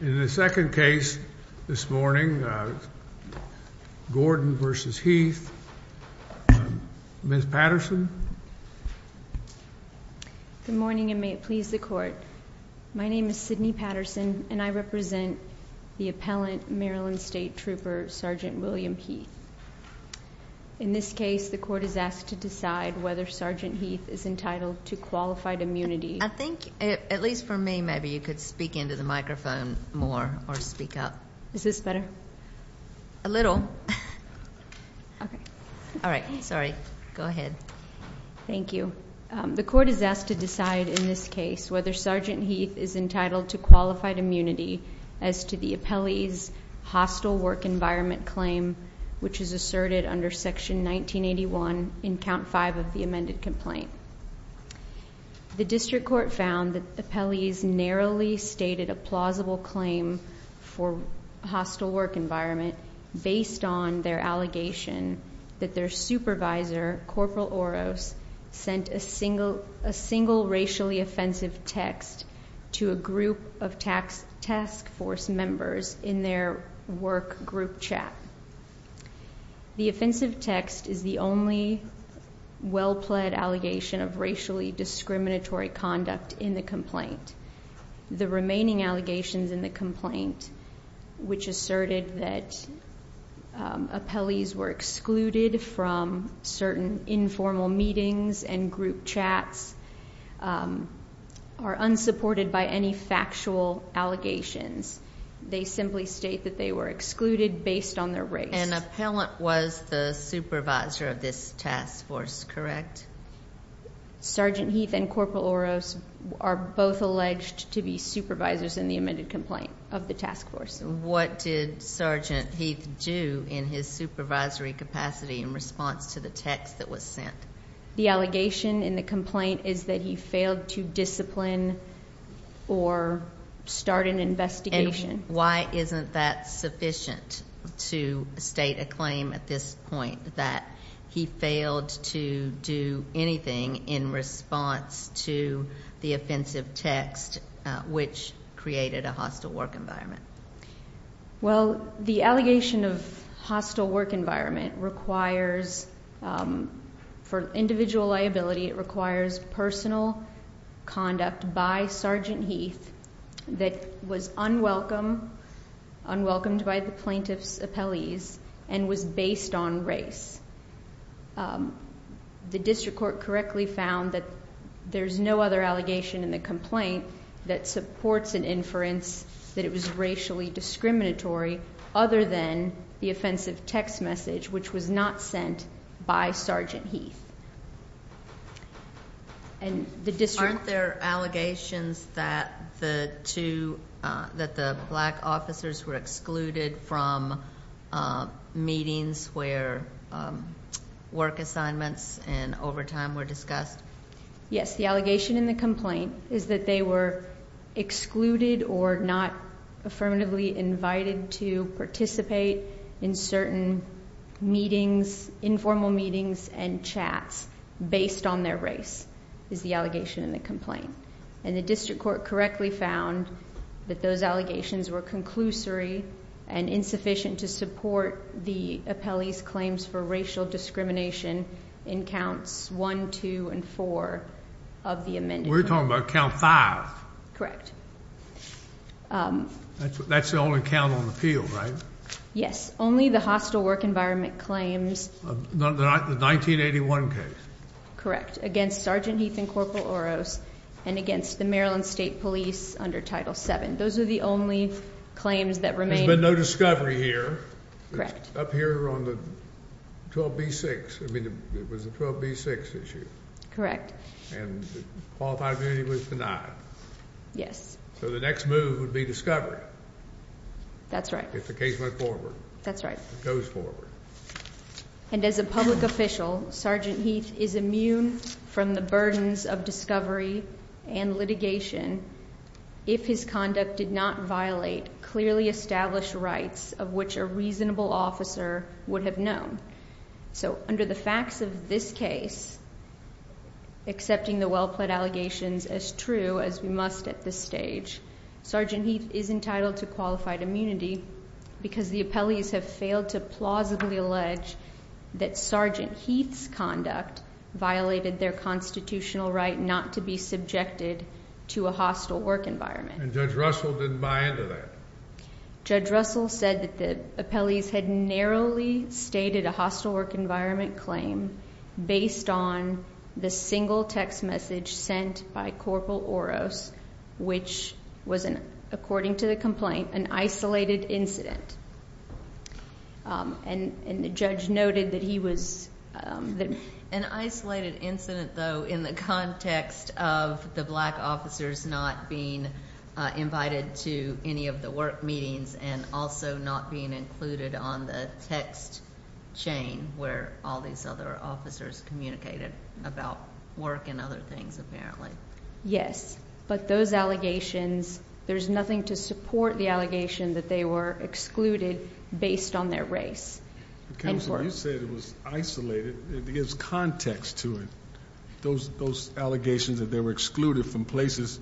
In the second case this morning, Gordon v. Heath, Ms. Patterson? Good morning, and may it please the Court. My name is Sydney Patterson, and I represent the appellant, Maryland State Trooper Sergeant William Heath. In this case, the Court is asked to decide whether Sergeant Heath is entitled to qualified immunity. I think, at least for me, maybe you could speak into the microphone more or speak up. Is this better? A little. All right. Sorry. Go ahead. Thank you. The Court is asked to decide in this case whether Sergeant Heath is entitled to qualified immunity as to the appellee's hostile work environment claim, which is asserted under Section 1981 in Count 5 of the amended complaint. The District Court found that appellees narrowly stated a plausible claim for hostile work environment based on their allegation that their supervisor, Corporal Oros, sent a single racially offensive text to a group of task force members in their work group chat. The offensive text is the only well-pled allegation of racially discriminatory conduct in the complaint. The remaining allegations in the complaint, which asserted that appellees were excluded from certain informal meetings and group chats, are unsupported by any factual allegations. They simply state that they were excluded based on their race. An appellant was the supervisor of this task force, correct? Sergeant Heath and Corporal Oros are both alleged to be supervisors in the amended complaint of the task force. What did Sergeant Heath do in his supervisory capacity in response to the text that was sent? The allegation in the complaint is that he failed to discipline or start an investigation. And why isn't that sufficient to state a claim at this point that he failed to do anything in response to the offensive text, which created a hostile work environment? Well, the allegation of hostile work environment requires, for individual liability, it requires personal conduct by Sergeant Heath that was unwelcomed by the plaintiff's appellees and was based on race. The district court correctly found that there's no other allegation in the complaint that supports an inference that it was racially discriminatory other than the offensive text message, which was not sent by Sergeant Heath. Aren't there allegations that the black officers were excluded from meetings where work assignments and overtime were discussed? Yes. The allegation in the complaint is that they were excluded or not affirmatively invited to participate in certain meetings, informal meetings and chats based on their race, is the allegation in the complaint. And the district court correctly found that those allegations were conclusory and insufficient to support the appellees' claims for racial discrimination in counts one, two and four of the amended. We're talking about count five. That's the only count on the field, right? Yes. Only the hostile work environment claims. The 1981 case. Correct. Against Sergeant Heath and Corporal Oros and against the Maryland State Police under Title VII. Those are the only claims that remain. There's been no discovery here. Correct. Up here on the 12B6. I mean, it was a 12B6 issue. And qualified immunity was denied. Yes. So the next move would be discovery. That's right. If the case went forward. That's right. Goes forward. And as a public official, Sergeant Heath is immune from the burdens of discovery and litigation if his conduct did not violate clearly established rights of which a reasonable officer would have known. So under the facts of this case, accepting the well-pled allegations as true as we must at this stage, Sergeant Heath is entitled to qualified immunity because the appellees have failed to plausibly allege that Sergeant Heath's conduct violated their constitutional right not to be subjected to a hostile work environment. And Judge Russell didn't buy into that. Judge Russell said that the appellees had narrowly stated a hostile work environment claim based on the single text message sent by Corporal Oros, which was, according to the complaint, an isolated incident. And the judge noted that he was. An isolated incident, though, in the context of the black officers not being invited to any of the work meetings and also not being included on the text chain where all these other officers communicated about work and other things, apparently. But those allegations, there's nothing to support the allegation that they were excluded based on their race. Counsel, you said it was isolated. It gives context to it. Those allegations that they were excluded from places,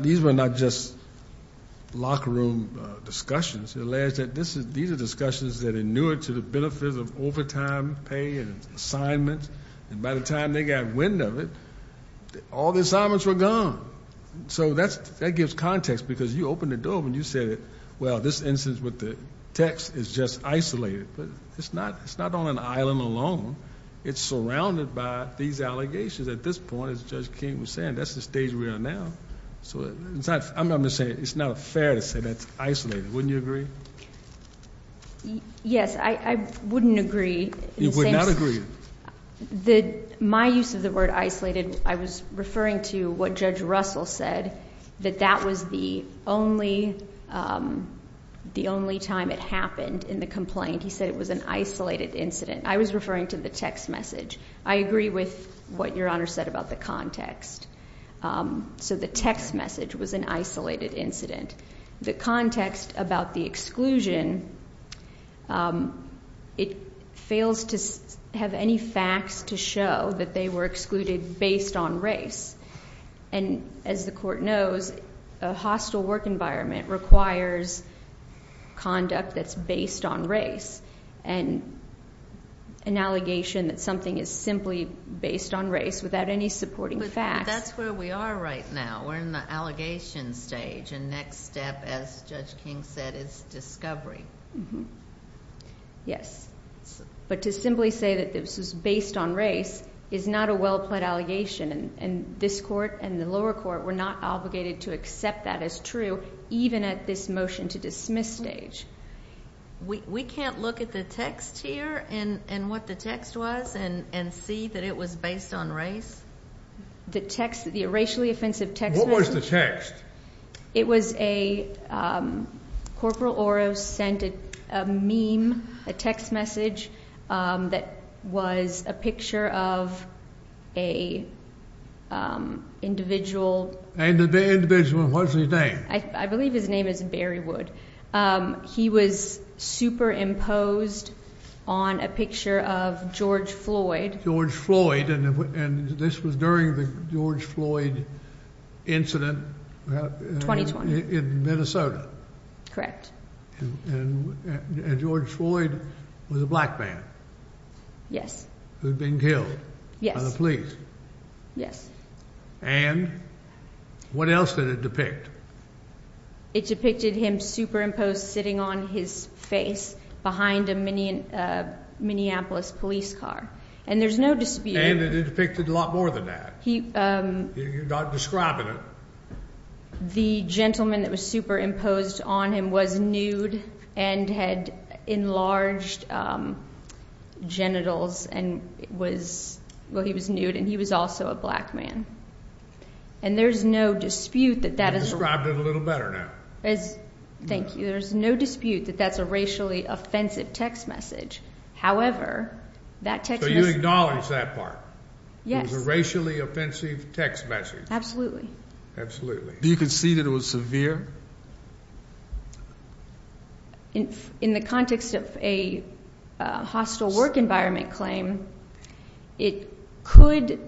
these were not just locker room discussions. It alleged that these are discussions that are new to the benefits of overtime pay and assignments. And by the time they got wind of it, all the assignments were gone. So that gives context because you opened the door and you said, well, this instance with the text is just isolated. But it's not on an island alone. It's surrounded by these allegations at this point, as Judge King was saying. That's the stage we are now. So I'm not going to say it's not fair to say that's isolated. Wouldn't you agree? Yes, I wouldn't agree. You would not agree? My use of the word isolated, I was referring to what Judge Russell said, that that was the only time it happened in the complaint. He said it was an isolated incident. I was referring to the text message. I agree with what Your Honor said about the context. So the text message was an isolated incident. The context about the exclusion, it fails to have any facts to show that they were excluded based on race. And as the Court knows, a hostile work environment requires conduct that's based on race. And an allegation that something is simply based on race without any supporting facts. But that's where we are right now. We're in the allegation stage. And next step, as Judge King said, is discovery. Yes. But to simply say that this was based on race is not a well-plaid allegation. And this Court and the lower court were not obligated to accept that as true, even at this motion to dismiss stage. We can't look at the text here and what the text was and see that it was based on race? The text, the racially offensive text message? What was the text? It was a Corporal Oro sent a meme, a text message, that was a picture of an individual. And the individual, what was his name? I believe his name is Barry Wood. He was superimposed on a picture of George Floyd. George Floyd, and this was during the George Floyd incident in Minnesota. Correct. And George Floyd was a black man. Yes. Who had been killed by the police. Yes. And what else did it depict? It depicted him superimposed sitting on his face behind a Minneapolis police car. And there's no dispute. And it depicted a lot more than that. You're not describing it. The gentleman that was superimposed on him was nude and had enlarged genitals and was, well, he was nude and he was also a black man. And there's no dispute that that is. You described it a little better now. Thank you. There's no dispute that that's a racially offensive text message. However, that text message. So you acknowledge that part? Yes. It was a racially offensive text message. Absolutely. Do you concede that it was severe? In the context of a hostile work environment claim, it could,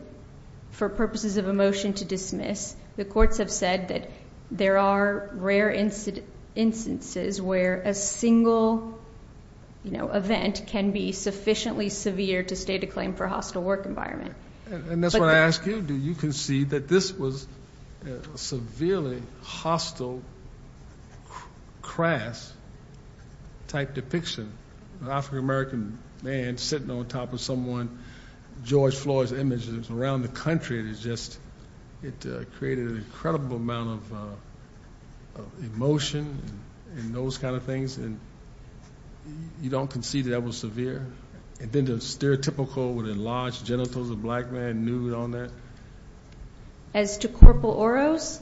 for purposes of a motion to dismiss, the courts have said that there are rare instances where a single event can be sufficiently severe to state a claim for a hostile work environment. And that's what I ask you. Do you concede that this was a severely hostile, crass-type depiction? An African-American man sitting on top of someone, George Floyd's images around the country. It created an incredible amount of emotion and those kind of things. And you don't concede that that was severe? And then the stereotypical enlarged genitals of a black man nude on that? As to Corporal Oros?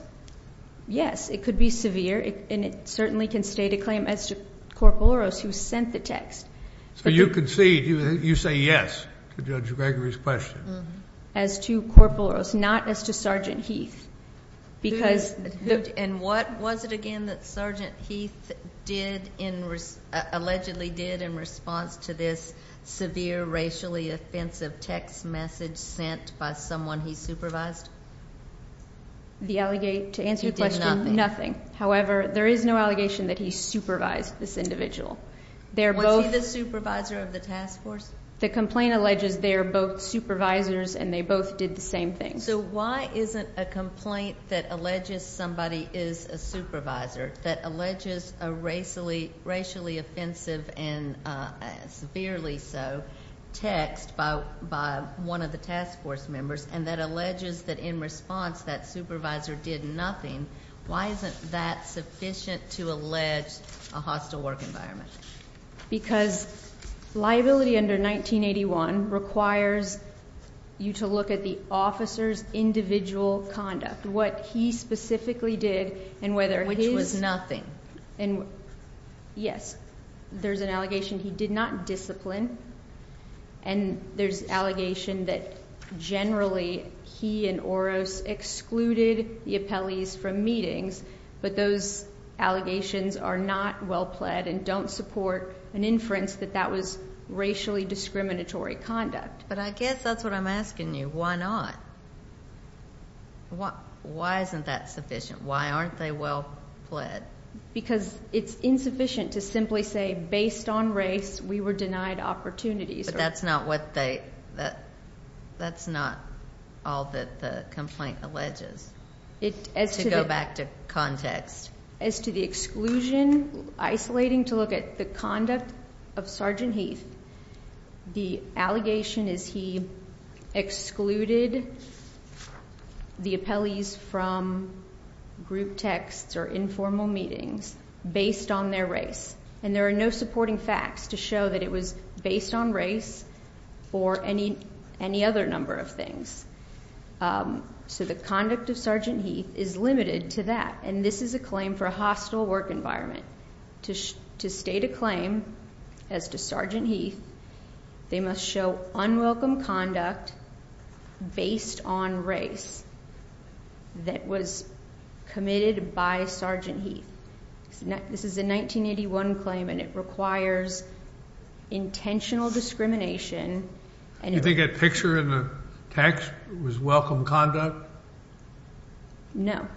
Yes, it could be severe. And it certainly can state a claim as to Corporal Oros, who sent the text. So you concede, you say yes to Judge Gregory's question? As to Corporal Oros, not as to Sergeant Heath. And what was it, again, that Sergeant Heath allegedly did in response to this severe, racially offensive text message sent by someone he supervised? He did nothing. However, there is no allegation that he supervised this individual. Was he the supervisor of the task force? The complaint alleges they are both supervisors and they both did the same thing. So why isn't a complaint that alleges somebody is a supervisor, that alleges a racially offensive and severely so text by one of the task force members, and that alleges that in response that supervisor did nothing, why isn't that sufficient to allege a hostile work environment? Because liability under 1981 requires you to look at the officer's individual conduct. What he specifically did and whether his- Yes. There's an allegation he did not discipline, and there's allegation that generally he and Oros excluded the appellees from meetings, but those allegations are not well pled and don't support an inference that that was racially discriminatory conduct. But I guess that's what I'm asking you. Why not? Why isn't that sufficient? Why aren't they well pled? Because it's insufficient to simply say, based on race, we were denied opportunities. But that's not what they- That's not all that the complaint alleges. To go back to context. As to the exclusion, isolating to look at the conduct of Sergeant Heath, the allegation is he excluded the appellees from group texts or informal meetings based on their race, and there are no supporting facts to show that it was based on race or any other number of things. So the conduct of Sergeant Heath is limited to that, and this is a claim for a hostile work environment. To state a claim as to Sergeant Heath, they must show unwelcome conduct based on race that was committed by Sergeant Heath. This is a 1981 claim, and it requires intentional discrimination. Do you think that picture in the text was welcome conduct? No.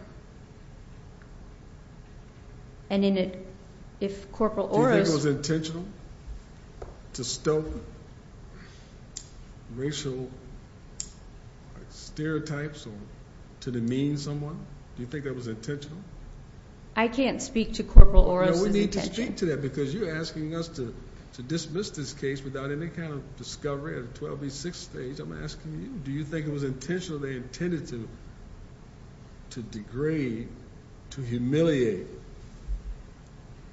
And if Corporal Oros- Do you think it was intentional to stoke racial stereotypes or to demean someone? Do you think that was intentional? I can't speak to Corporal Oros' intention. No, we need to speak to that because you're asking us to dismiss this case without any kind of discovery at a 12B6 stage. I'm asking you, do you think it was intentionally intended to degrade, to humiliate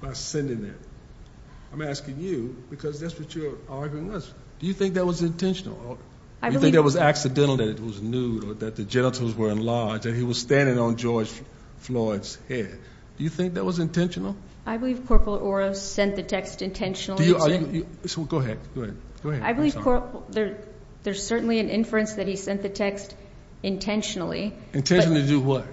by sending that? I'm asking you because that's what your argument was. Do you think that was intentional? Do you think it was accidental that it was nude or that the genitals were enlarged and he was standing on George Floyd's head? Do you think that was intentional? I believe Corporal Oros sent the text intentionally. Go ahead. I believe there's certainly an inference that he sent the text intentionally. Intentionally to do what?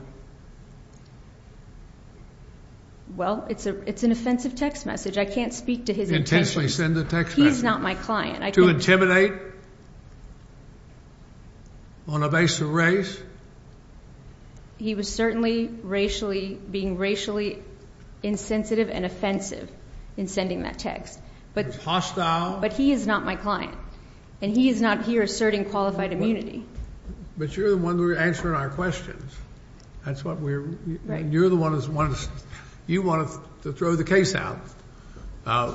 Well, it's an offensive text message. I can't speak to his intentions. Intentionally send the text message? He's not my client. To intimidate on a base of race? He was certainly racially, being racially insensitive and offensive in sending that text. He was hostile? But he is not my client. And he is not here asserting qualified immunity. But you're the one answering our questions. That's what we're, you're the one, you wanted to throw the case out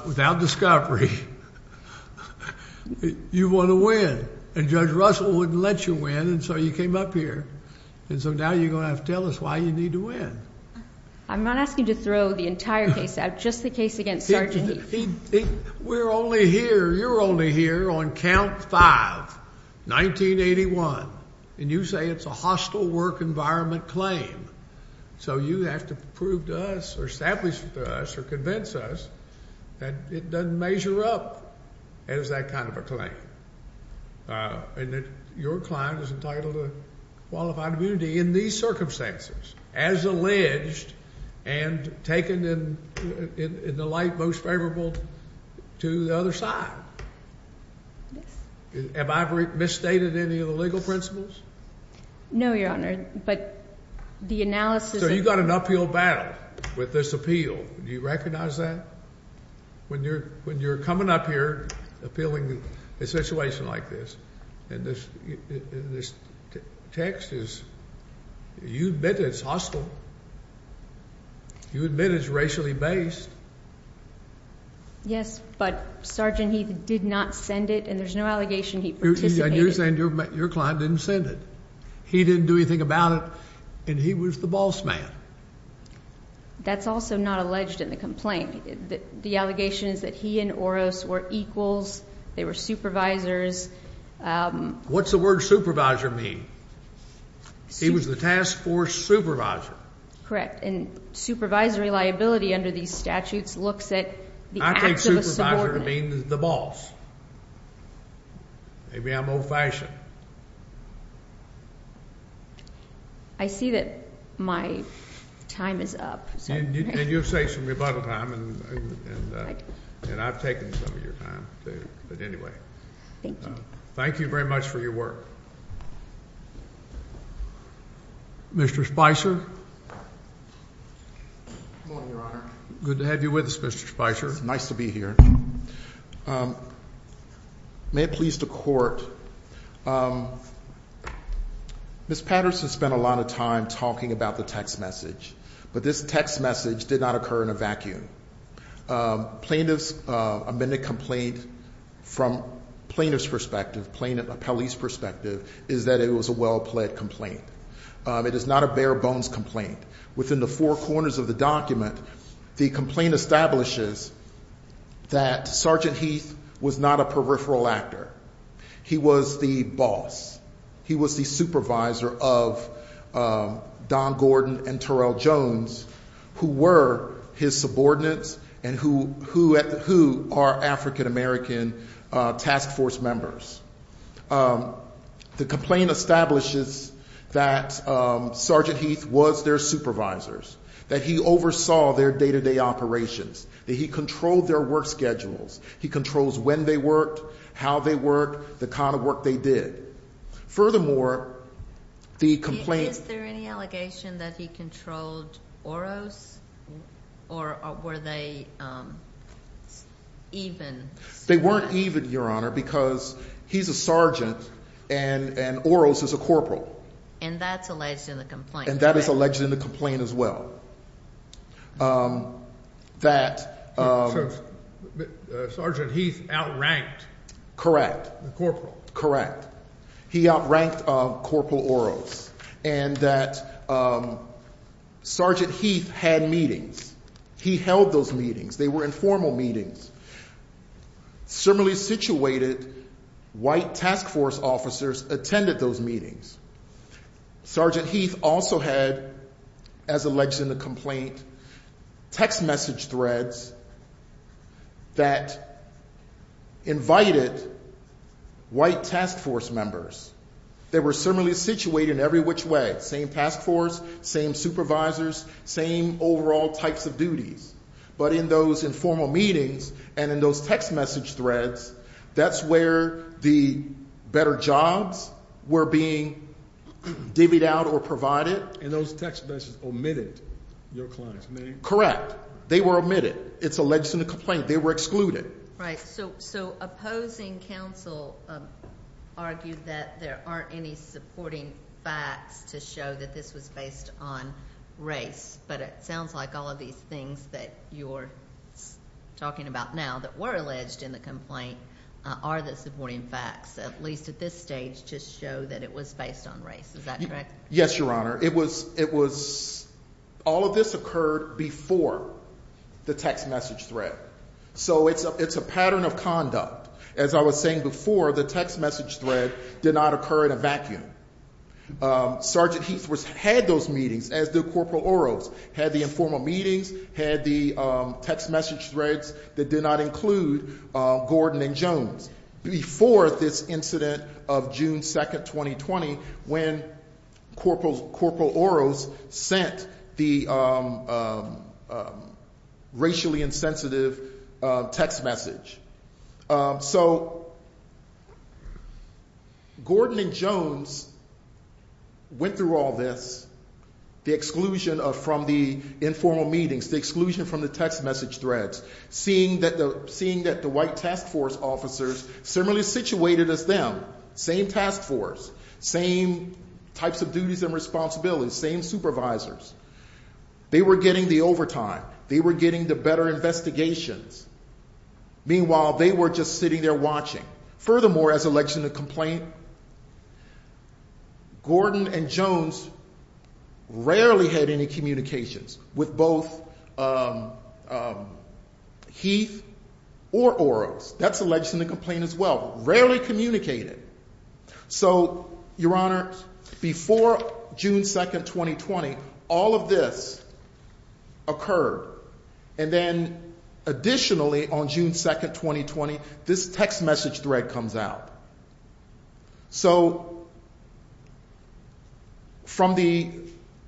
without discovery. You want to win. And Judge Russell wouldn't let you win and so you came up here. And so now you're going to have to tell us why you need to win. I'm not asking you to throw the entire case out, just the case against Sergeant Heath. We're only here, you're only here on count five, 1981. And you say it's a hostile work environment claim. So you have to prove to us or establish to us or convince us that it doesn't measure up as that kind of a claim. And that your client is entitled to qualified immunity in these circumstances, as alleged and taken in the light most favorable to the other side. Have I misstated any of the legal principles? No, Your Honor, but the analysis. So you've got an uphill battle with this appeal. Do you recognize that? When you're coming up here appealing a situation like this, and this text is, you admit it's hostile. You admit it's racially based. Yes, but Sergeant Heath did not send it and there's no allegation he participated. And you're saying your client didn't send it. He didn't do anything about it and he was the boss man. That's also not alleged in the complaint. The allegation is that he and Oros were equals, they were supervisors. What's the word supervisor mean? He was the task force supervisor. Correct, and supervisory liability under these statutes looks at the acts of a subordinate. I think supervisor means the boss. Maybe I'm old-fashioned. I see that my time is up. And you'll say some rebuttal time and I've taken some of your time too, but anyway. Thank you. Thank you very much for your work. Mr. Spicer. Good morning, Your Honor. Good to have you with us, Mr. Spicer. It's nice to be here. May it please the Court, Ms. Patterson spent a lot of time talking about the text message, but this text message did not occur in a vacuum. Plaintiff's amended complaint from plaintiff's perspective, police perspective, is that it was a well-pled complaint. It is not a bare-bones complaint. Within the four corners of the document, the complaint establishes that Sergeant Heath was not a peripheral actor. He was the boss. He was the supervisor of Don Gordon and Terrell Jones, who were his subordinates and who are African-American task force members. The complaint establishes that Sergeant Heath was their supervisor, that he oversaw their day-to-day operations, that he controlled their work schedules. He controls when they worked, how they worked, the kind of work they did. Furthermore, the complaint... Is there any allegation that he controlled Oro's or were they even? They weren't even, Your Honor, because he's a sergeant and Oro's is a corporal. And that's alleged in the complaint, correct? And that is alleged in the complaint as well, that... So Sergeant Heath outranked... Correct. The corporal. Correct. He outranked Corporal Oro's and that Sergeant Heath had meetings. He held those meetings. They were informal meetings. Similarly situated white task force officers attended those meetings. Sergeant Heath also had, as alleged in the complaint, text message threads that invited white task force members. They were similarly situated in every which way. Same task force, same supervisors, same overall types of duties. But in those informal meetings and in those text message threads, that's where the better jobs were being divvied out or provided. And those text messages omitted your client's name? Correct. They were omitted. It's alleged in the complaint. They were excluded. Right. So opposing counsel argued that there aren't any supporting facts to show that this was based on race. But it sounds like all of these things that you're talking about now that were alleged in the complaint are the supporting facts, at least at this stage, to show that it was based on race. Is that correct? Yes, Your Honor. It was... All of this occurred before the text message thread. So it's a pattern of conduct. As I was saying before, the text message thread did not occur in a vacuum. Sergeant Heathworth had those meetings as did Corporal Oros, had the informal meetings, had the text message threads that did not include Gordon and Jones. Before this incident of June 2nd, 2020, when Corporal Oros sent the racially insensitive text message. So Gordon and Jones went through all this, the exclusion from the informal meetings, the exclusion from the text message threads, seeing that the white task force officers, similarly situated as them, same task force, same types of duties and responsibilities, same supervisors. They were getting the overtime. They were getting the better investigations. Meanwhile, they were just sitting there watching. Furthermore, as alleged in the complaint, Gordon and Jones rarely had any communications with both Heath or Oros. That's alleged in the complaint as well. Rarely communicated. So, Your Honor, before June 2nd, 2020, all of this occurred. And then, additionally, on June 2nd, 2020, this text message thread comes out. So, from the,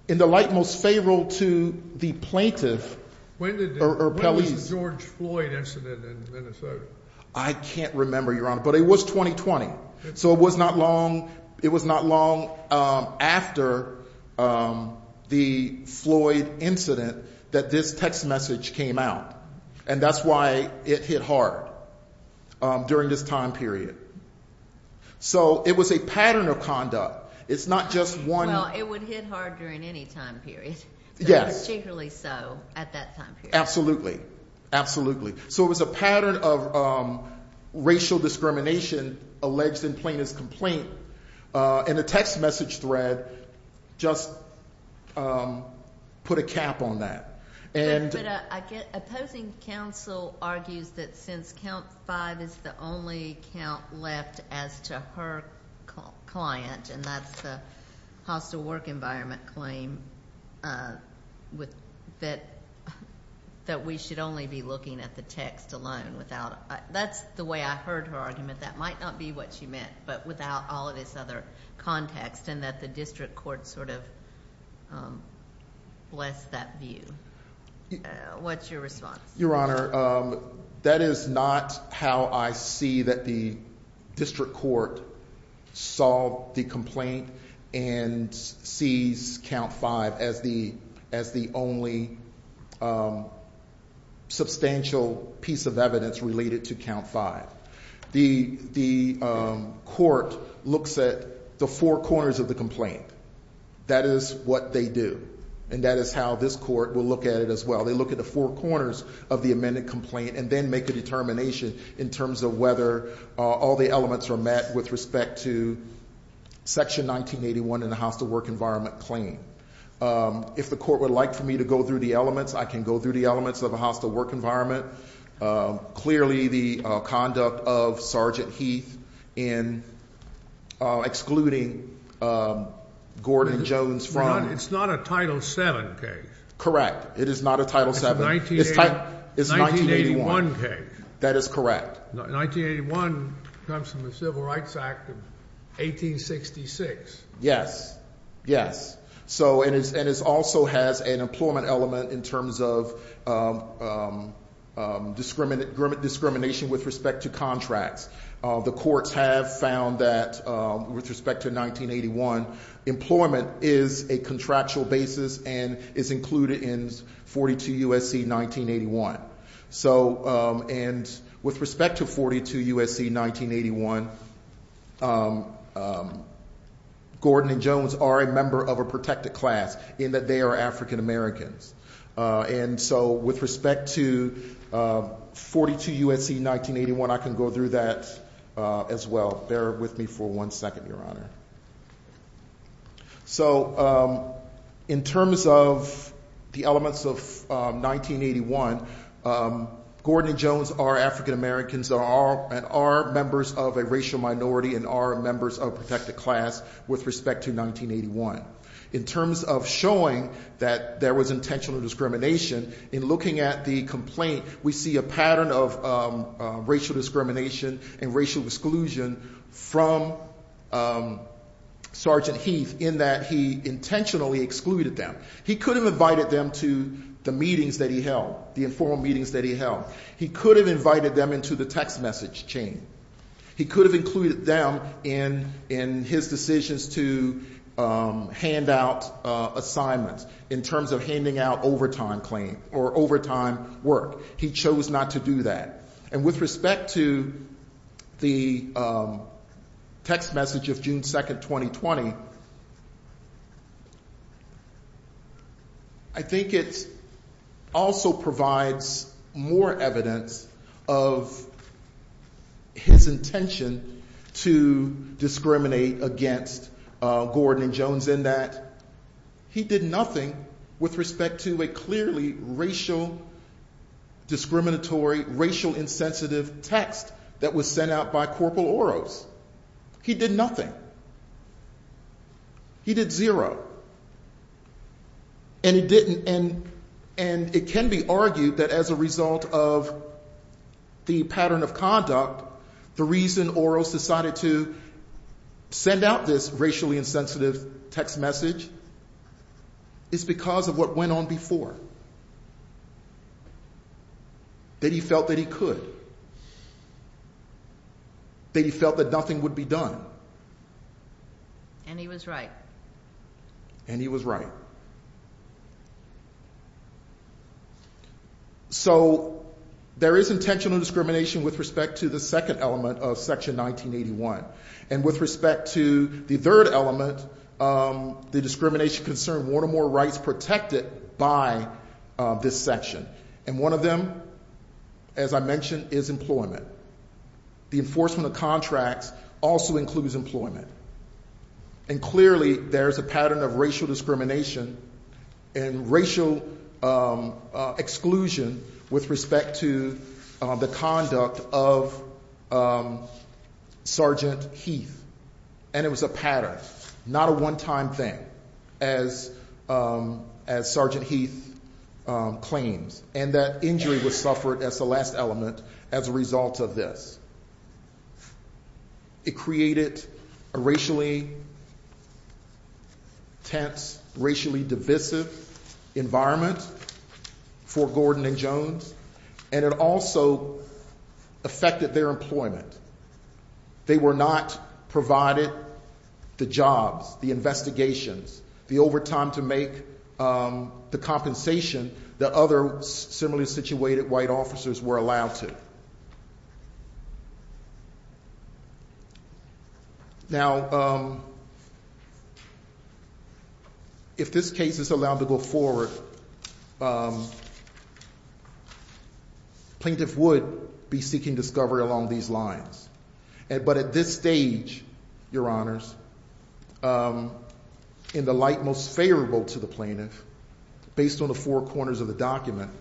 in the light most favorable to the plaintiff. When was the George Floyd incident in Minnesota? I can't remember, Your Honor, but it was 2020. So, it was not long, it was not long after the Floyd incident that this text message came out. And that's why it hit hard during this time period. So, it was a pattern of conduct. It's not just one. Well, it would hit hard during any time period. Yes. Particularly so at that time period. Absolutely. Absolutely. So, it was a pattern of racial discrimination alleged in plaintiff's complaint. And the text message thread just put a cap on that. But opposing counsel argues that since count five is the only count left as to her client, and that's the hostile work environment claim, that we should only be looking at the text alone. That's the way I heard her argument. That might not be what she meant, but without all of this other context, and that the district court sort of blessed that view. What's your response? Your Honor, that is not how I see that the district court solved the complaint and sees count five as the only substantial piece of evidence related to count five. The court looks at the four corners of the complaint. That is what they do. And that is how this court will look at it as well. They look at the four corners of the amended complaint and then make a determination in terms of whether all the elements are met with respect to section 1981 and the hostile work environment claim. If the court would like for me to go through the elements, I can go through the elements of a hostile work environment. Clearly the conduct of Sergeant Heath in excluding Gordon and Jones from it. It's not a Title VII case. Correct. It is not a Title VII. It's 1981 case. That is correct. 1981 comes from the Civil Rights Act of 1866. Yes. Yes. And it also has an employment element in terms of discrimination with respect to contracts. The courts have found that with respect to 1981, employment is a contractual basis and is included in 42 U.S.C. 1981. And with respect to 42 U.S.C. 1981, Gordon and Jones are a member of a protected class in that they are African Americans. And so with respect to 42 U.S.C. 1981, I can go through that as well. Bear with me for one second, Your Honor. So in terms of the elements of 1981, Gordon and Jones are African Americans and are members of a racial minority and are members of a protected class with respect to 1981. In terms of showing that there was intentional discrimination, in looking at the complaint, we see a pattern of racial discrimination and racial exclusion from Sergeant Heath in that he intentionally excluded them. He could have invited them to the meetings that he held, the informal meetings that he held. He could have invited them into the text message chain. He could have included them in his decisions to hand out assignments in terms of handing out overtime work. He chose not to do that. And with respect to the text message of June 2, 2020, I think it also provides more evidence of his intention to discriminate against Gordon and Jones in that he did nothing with respect to a clearly racial discriminatory, racial insensitive text that was sent out by Corporal Oros. He did nothing. He did zero. And it can be argued that as a result of the pattern of conduct, the reason Oros decided to send out this racially insensitive text message is because of what went on before. That he felt that he could. That he felt that nothing would be done. And he was right. And he was right. So there is intentional discrimination with respect to the second element of Section 1981. And with respect to the third element, the discrimination concerned one or more rights protected by this section. And one of them, as I mentioned, is employment. The enforcement of contracts also includes employment. And clearly there is a pattern of racial discrimination and racial exclusion with respect to the conduct of Sergeant Heath. And it was a pattern. Not a one-time thing, as Sergeant Heath claims. And that injury was suffered as the last element as a result of this. It created a racially tense, racially divisive environment for Gordon and Jones. And it also affected their employment. They were not provided the jobs, the investigations, the overtime to make the compensation that other similarly situated white officers were allowed to. Now, if this case is allowed to go forward, plaintiff would be seeking discovery along these lines. But at this stage, Your Honors, in the light most favorable to the plaintiff, based on the four corners of the document,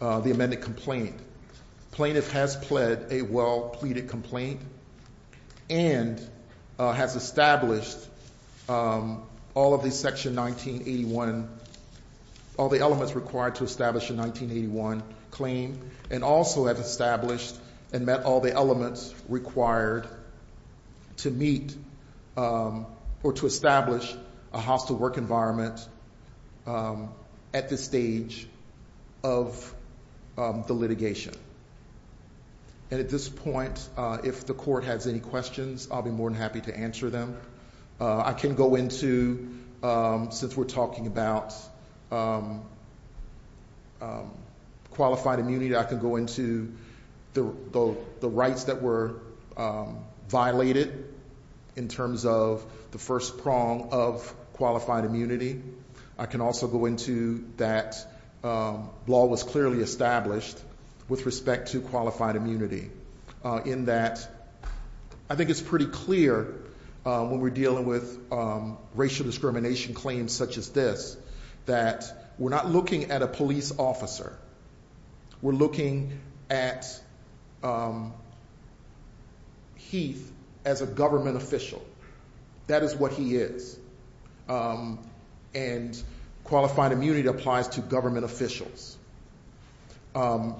the amended complaint, plaintiff has pled a well-pleaded complaint and has established all of these Section 1981, all the elements required to establish a 1981 claim, and also has established and met all the elements required to meet or to establish a hostile work environment at this stage of the litigation. And at this point, if the Court has any questions, I'll be more than happy to answer them. I can go into, since we're talking about qualified immunity, I can go into the rights that were violated in terms of the first prong of qualified immunity. I can also go into that law was clearly established with respect to qualified immunity in that I think it's pretty clear when we're dealing with racial discrimination claims such as this that we're not looking at a police officer. We're looking at Heath as a government official. That is what he is. And qualified immunity applies to government officials. And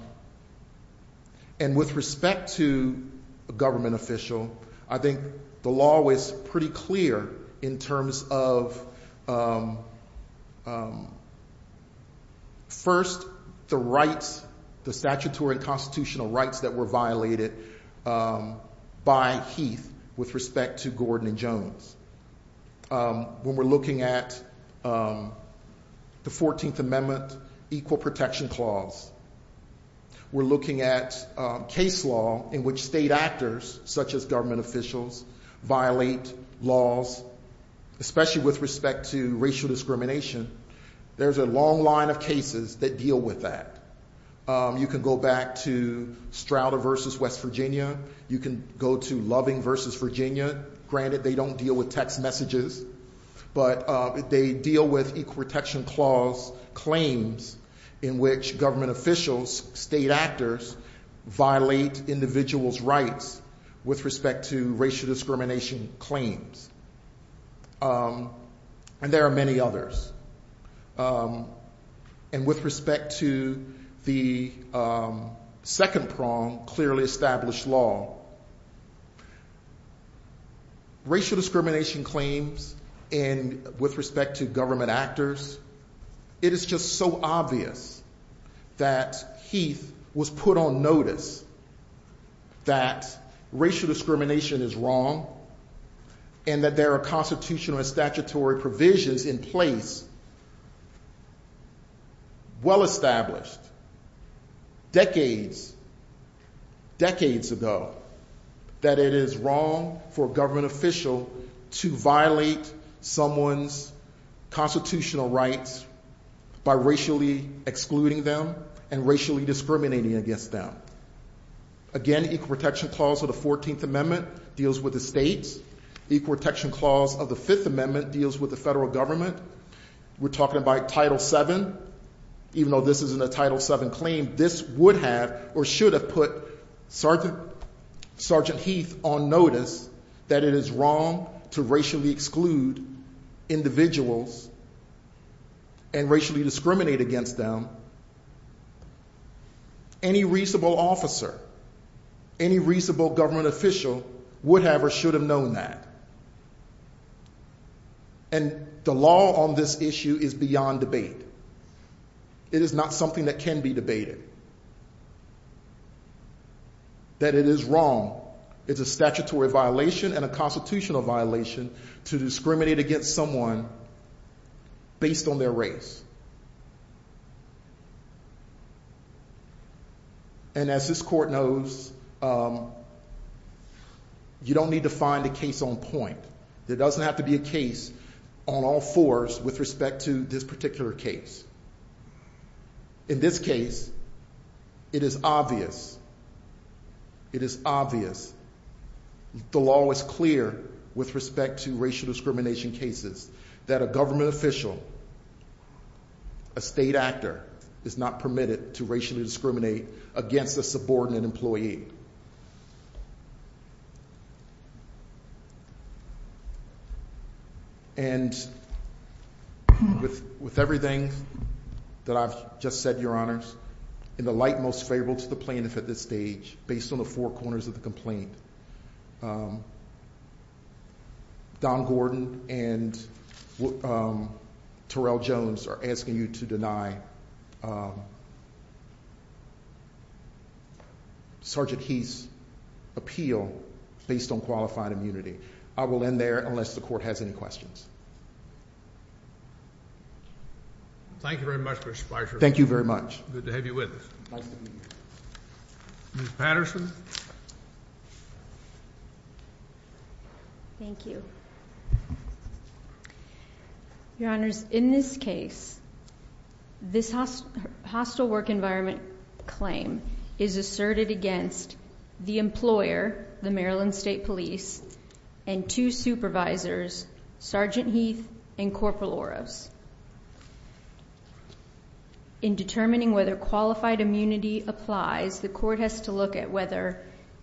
with respect to a government official, I think the law was pretty clear in terms of, first, the statutory and constitutional rights that were violated by Heath with respect to Gordon and Jones. When we're looking at the 14th Amendment Equal Protection Clause, we're looking at case law in which state actors, such as government officials, violate laws, especially with respect to racial discrimination. There's a long line of cases that deal with that. You can go back to Strouder v. West Virginia. You can go to Loving v. Virginia. Granted, they don't deal with text messages, but they deal with Equal Protection Clause claims in which government officials, state actors, violate individuals' rights with respect to racial discrimination claims. And there are many others. And with respect to the second prong, clearly established law, racial discrimination claims and with respect to government actors, it is just so obvious that Heath was put on notice that racial discrimination is wrong and that there are constitutional and statutory provisions in place, well established, decades, decades ago, that it is wrong for a government official to violate someone's constitutional rights by racially excluding them and racially discriminating against them. Again, Equal Protection Clause of the 14th Amendment deals with the states. Equal Protection Clause of the 5th Amendment deals with the federal government. We're talking about Title VII. Even though this isn't a Title VII claim, this would have or should have put Sergeant Heath on notice that it is wrong to racially exclude individuals and racially discriminate against them. Any reasonable officer, any reasonable government official would have or should have known that. And the law on this issue is beyond debate. It is not something that can be debated. That it is wrong, it's a statutory violation and a constitutional violation to discriminate against someone based on their race. And as this court knows, you don't need to find a case on point. There doesn't have to be a case on all fours with respect to this particular case. In this case, it is obvious, it is obvious, the law is clear with respect to racial discrimination cases that a government official, a state actor, is not permitted to racially discriminate against a subordinate employee. And with everything that I've just said, Your Honors, in the light most favorable to the plaintiff at this stage, based on the four corners of the complaint, Don Gordon and Terrell Jones are asking you to deny Sergeant Heath's appeal based on qualified immunity. I will end there unless the court has any questions. Thank you very much, Mr. Spicer. Thank you very much. Good to have you with us. Nice to be here. Ms. Patterson? Thank you. Your Honors, in this case, this hostile work environment claim is asserted against the employer, the Maryland State Police, and two supervisors, Sergeant Heath and Corporal Oros. In determining whether qualified immunity applies, the court has to look at whether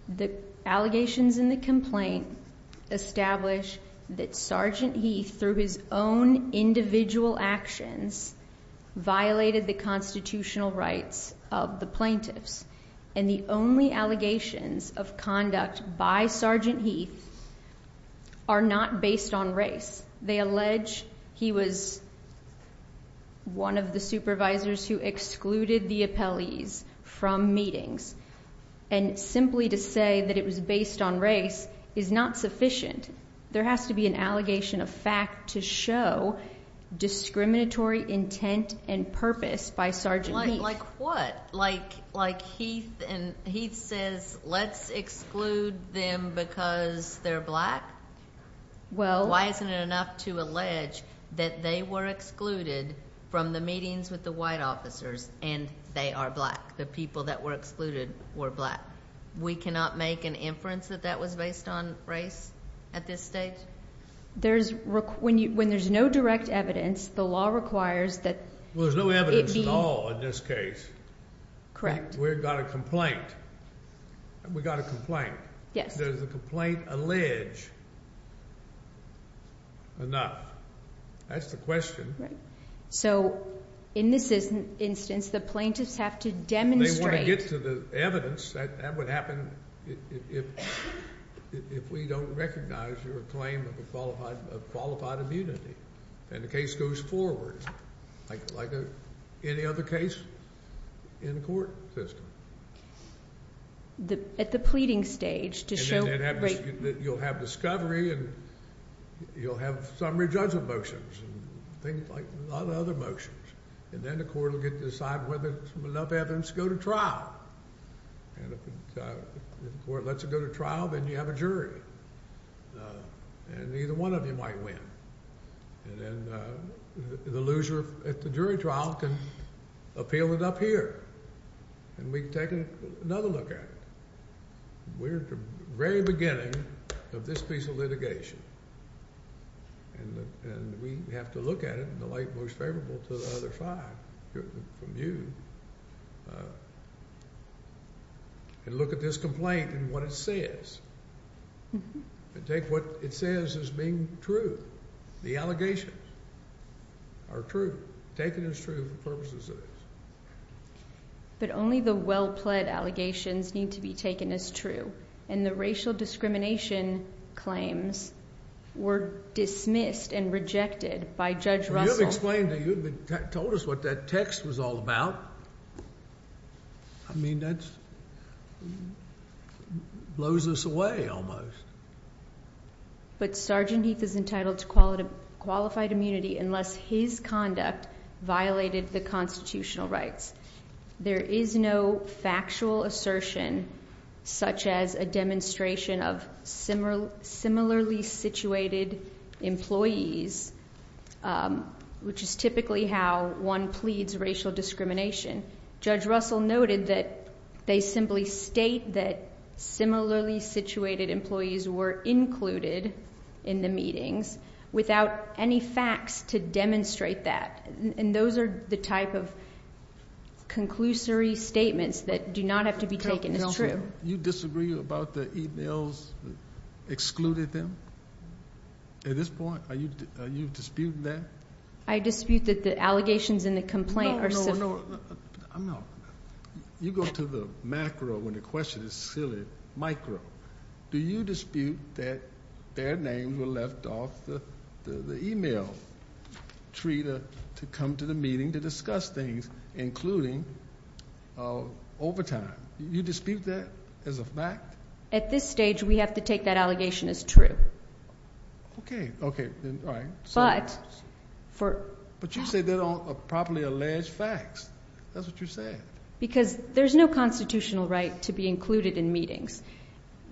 the allegations in the complaint establish that Sergeant Heath, through his own individual actions, violated the constitutional rights of the plaintiffs. And the only allegations of conduct by Sergeant Heath are not based on race. They allege he was one of the supervisors who excluded the appellees from meetings. And simply to say that it was based on race is not sufficient. There has to be an allegation of fact to show discriminatory intent and purpose by Sergeant Heath. Like what? Like Heath says, let's exclude them because they're black? Well... Why isn't it enough to allege that they were excluded from the meetings with the white officers and they are black? The people that were excluded were black. We cannot make an inference that that was based on race at this stage? When there's no direct evidence, the law requires that it be... Well, there's no evidence at all in this case. Correct. We've got a complaint. We've got a complaint. Yes. Does the complaint allege enough? That's the question. So in this instance, the plaintiffs have to demonstrate... They want to get to the evidence. That would happen if we don't recognize your claim of qualified immunity. And the case goes forward like any other case in the court system. At the pleading stage to show... And you'll have discovery and you'll have summary judgment motions and things like a lot of other motions. And then the court will decide whether there's enough evidence to go to trial. And if the court lets it go to trial, then you have a jury. And either one of you might win. And then the loser at the jury trial can appeal it up here. And we can take another look at it. We're at the very beginning of this piece of litigation. And we have to look at it in the light most favorable to the other five from you. And look at this complaint and what it says. And take what it says as being true. The allegations are true. Taken as true for the purposes of this. But only the well-pled allegations need to be taken as true. And the racial discrimination claims were dismissed and rejected by Judge Russell. You've explained to us what that text was all about. I mean, that blows us away almost. But Sergeant Heath is entitled to qualified immunity unless his conduct violated the constitutional rights. There is no factual assertion such as a demonstration of similarly situated employees, which is typically how one pleads racial discrimination. Judge Russell noted that they simply state that similarly situated employees were included in the meetings without any facts to demonstrate that. And those are the type of conclusory statements that do not have to be taken as true. You disagree about the emails that excluded them at this point? Are you disputing that? I dispute that the allegations in the complaint are similar. No, no, no. You go to the macro when the question is silly. Micro. Do you dispute that their names were left off the email tree to come to the meeting to discuss things, including overtime? Do you dispute that as a fact? At this stage, we have to take that allegation as true. Okay. Okay. All right. But for... But you said they don't properly allege facts. That's what you said. Because there's no constitutional right to be included in meetings.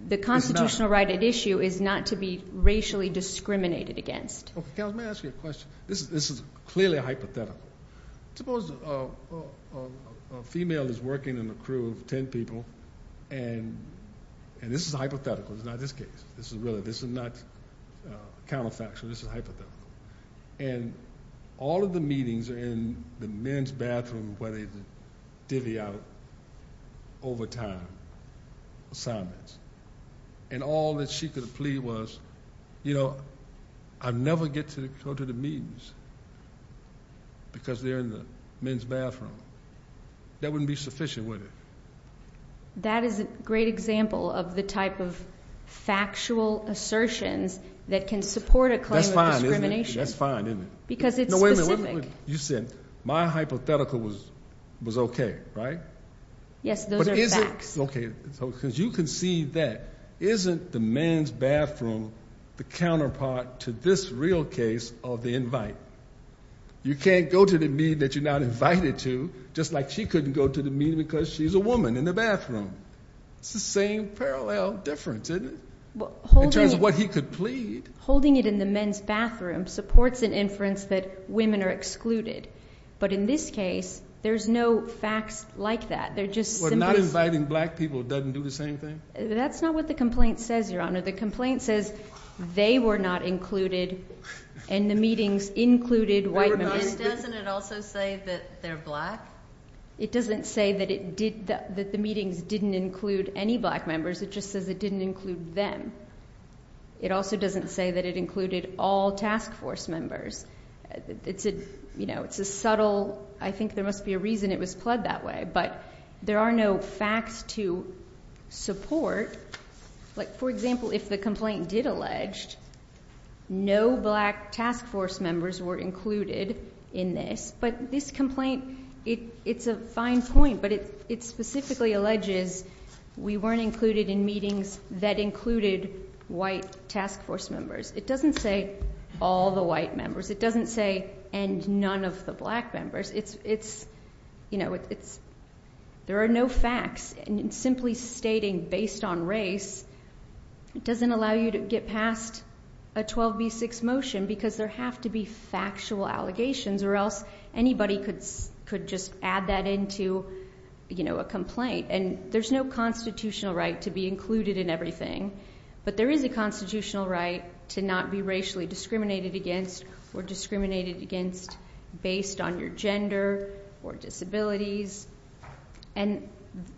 The constitutional right at issue is not to be racially discriminated against. Okay. Counsel, let me ask you a question. This is clearly a hypothetical. Suppose a female is working in a crew of 10 people, and this is a hypothetical. It's not this case. This is not counterfactual. This is a hypothetical. And all of the meetings are in the men's bathroom where they divvy out overtime assignments. And all that she could plead was, you know, I never get to go to the meetings because they're in the men's bathroom. That wouldn't be sufficient, would it? That is a great example of the type of factual assertions that can support a claim of discrimination. That's fine, isn't it? That's fine, isn't it? Because it's specific. No, wait a minute. You said my hypothetical was okay, right? Yes, those are facts. Okay. Because you can see that isn't the men's bathroom the counterpart to this real case of the invite? You can't go to the meeting that you're not invited to just like she couldn't go to the meeting because she's a woman in the bathroom. It's the same parallel difference, isn't it? In terms of what he could plead. Holding it in the men's bathroom supports an inference that women are excluded. But in this case, there's no facts like that. They're just simplistic. Well, not inviting black people doesn't do the same thing? That's not what the complaint says, Your Honor. The complaint says they were not included and the meetings included white members. And doesn't it also say that they're black? It doesn't say that the meetings didn't include any black members. It just says it didn't include them. It also doesn't say that it included all task force members. It's a subtle, I think there must be a reason it was pled that way. But there are no facts to support. For example, if the complaint did allege no black task force members were included in this. But this complaint, it's a fine point. But it specifically alleges we weren't included in meetings that included white task force members. It doesn't say all the white members. It doesn't say and none of the black members. There are no facts. And simply stating based on race doesn't allow you to get past a 12B6 motion. Because there have to be factual allegations or else anybody could just add that into a complaint. And there's no constitutional right to be included in everything. But there is a constitutional right to not be racially discriminated against or discriminated against based on your gender or disabilities. And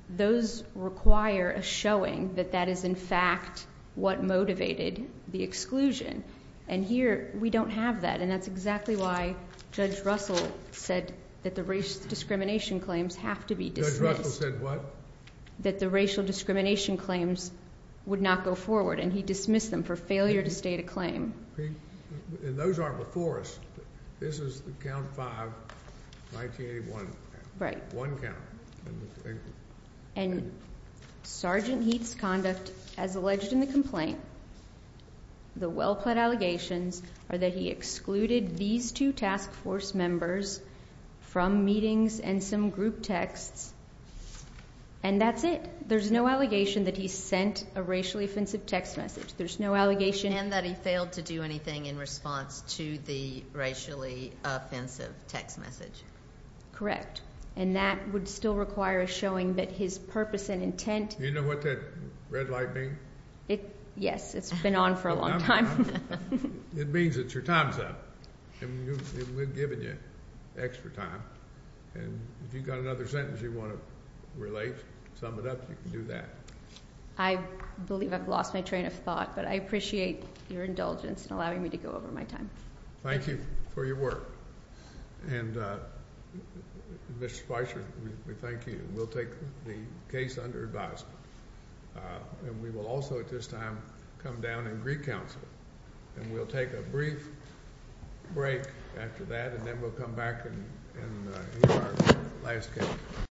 those require a showing that that is in fact what motivated the exclusion. And here we don't have that. And that's exactly why Judge Russell said that the racial discrimination claims have to be dismissed. Judge Russell said what? That the racial discrimination claims would not go forward. And he dismissed them for failure to state a claim. And those aren't before us. This is the count five, 1981. Right. One count. And Sergeant Heath's conduct as alleged in the complaint. The well-pled allegations are that he excluded these two task force members from meetings and some group texts. And that's it. There's no allegation that he sent a racially offensive text message. There's no allegation. And that he failed to do anything in response to the racially offensive text message. Correct. And that would still require a showing that his purpose and intent. Do you know what that red light means? Yes. It's been on for a long time. It means that your time's up. And we've given you extra time. And if you've got another sentence you want to relate, sum it up, you can do that. I believe I've lost my train of thought. But I appreciate your indulgence in allowing me to go over my time. Thank you for your work. And Mr. Spicer, we thank you. We'll take the case under advisement. And we will also at this time come down and recounsel. And we'll take a brief break after that. And then we'll come back and hear our last case.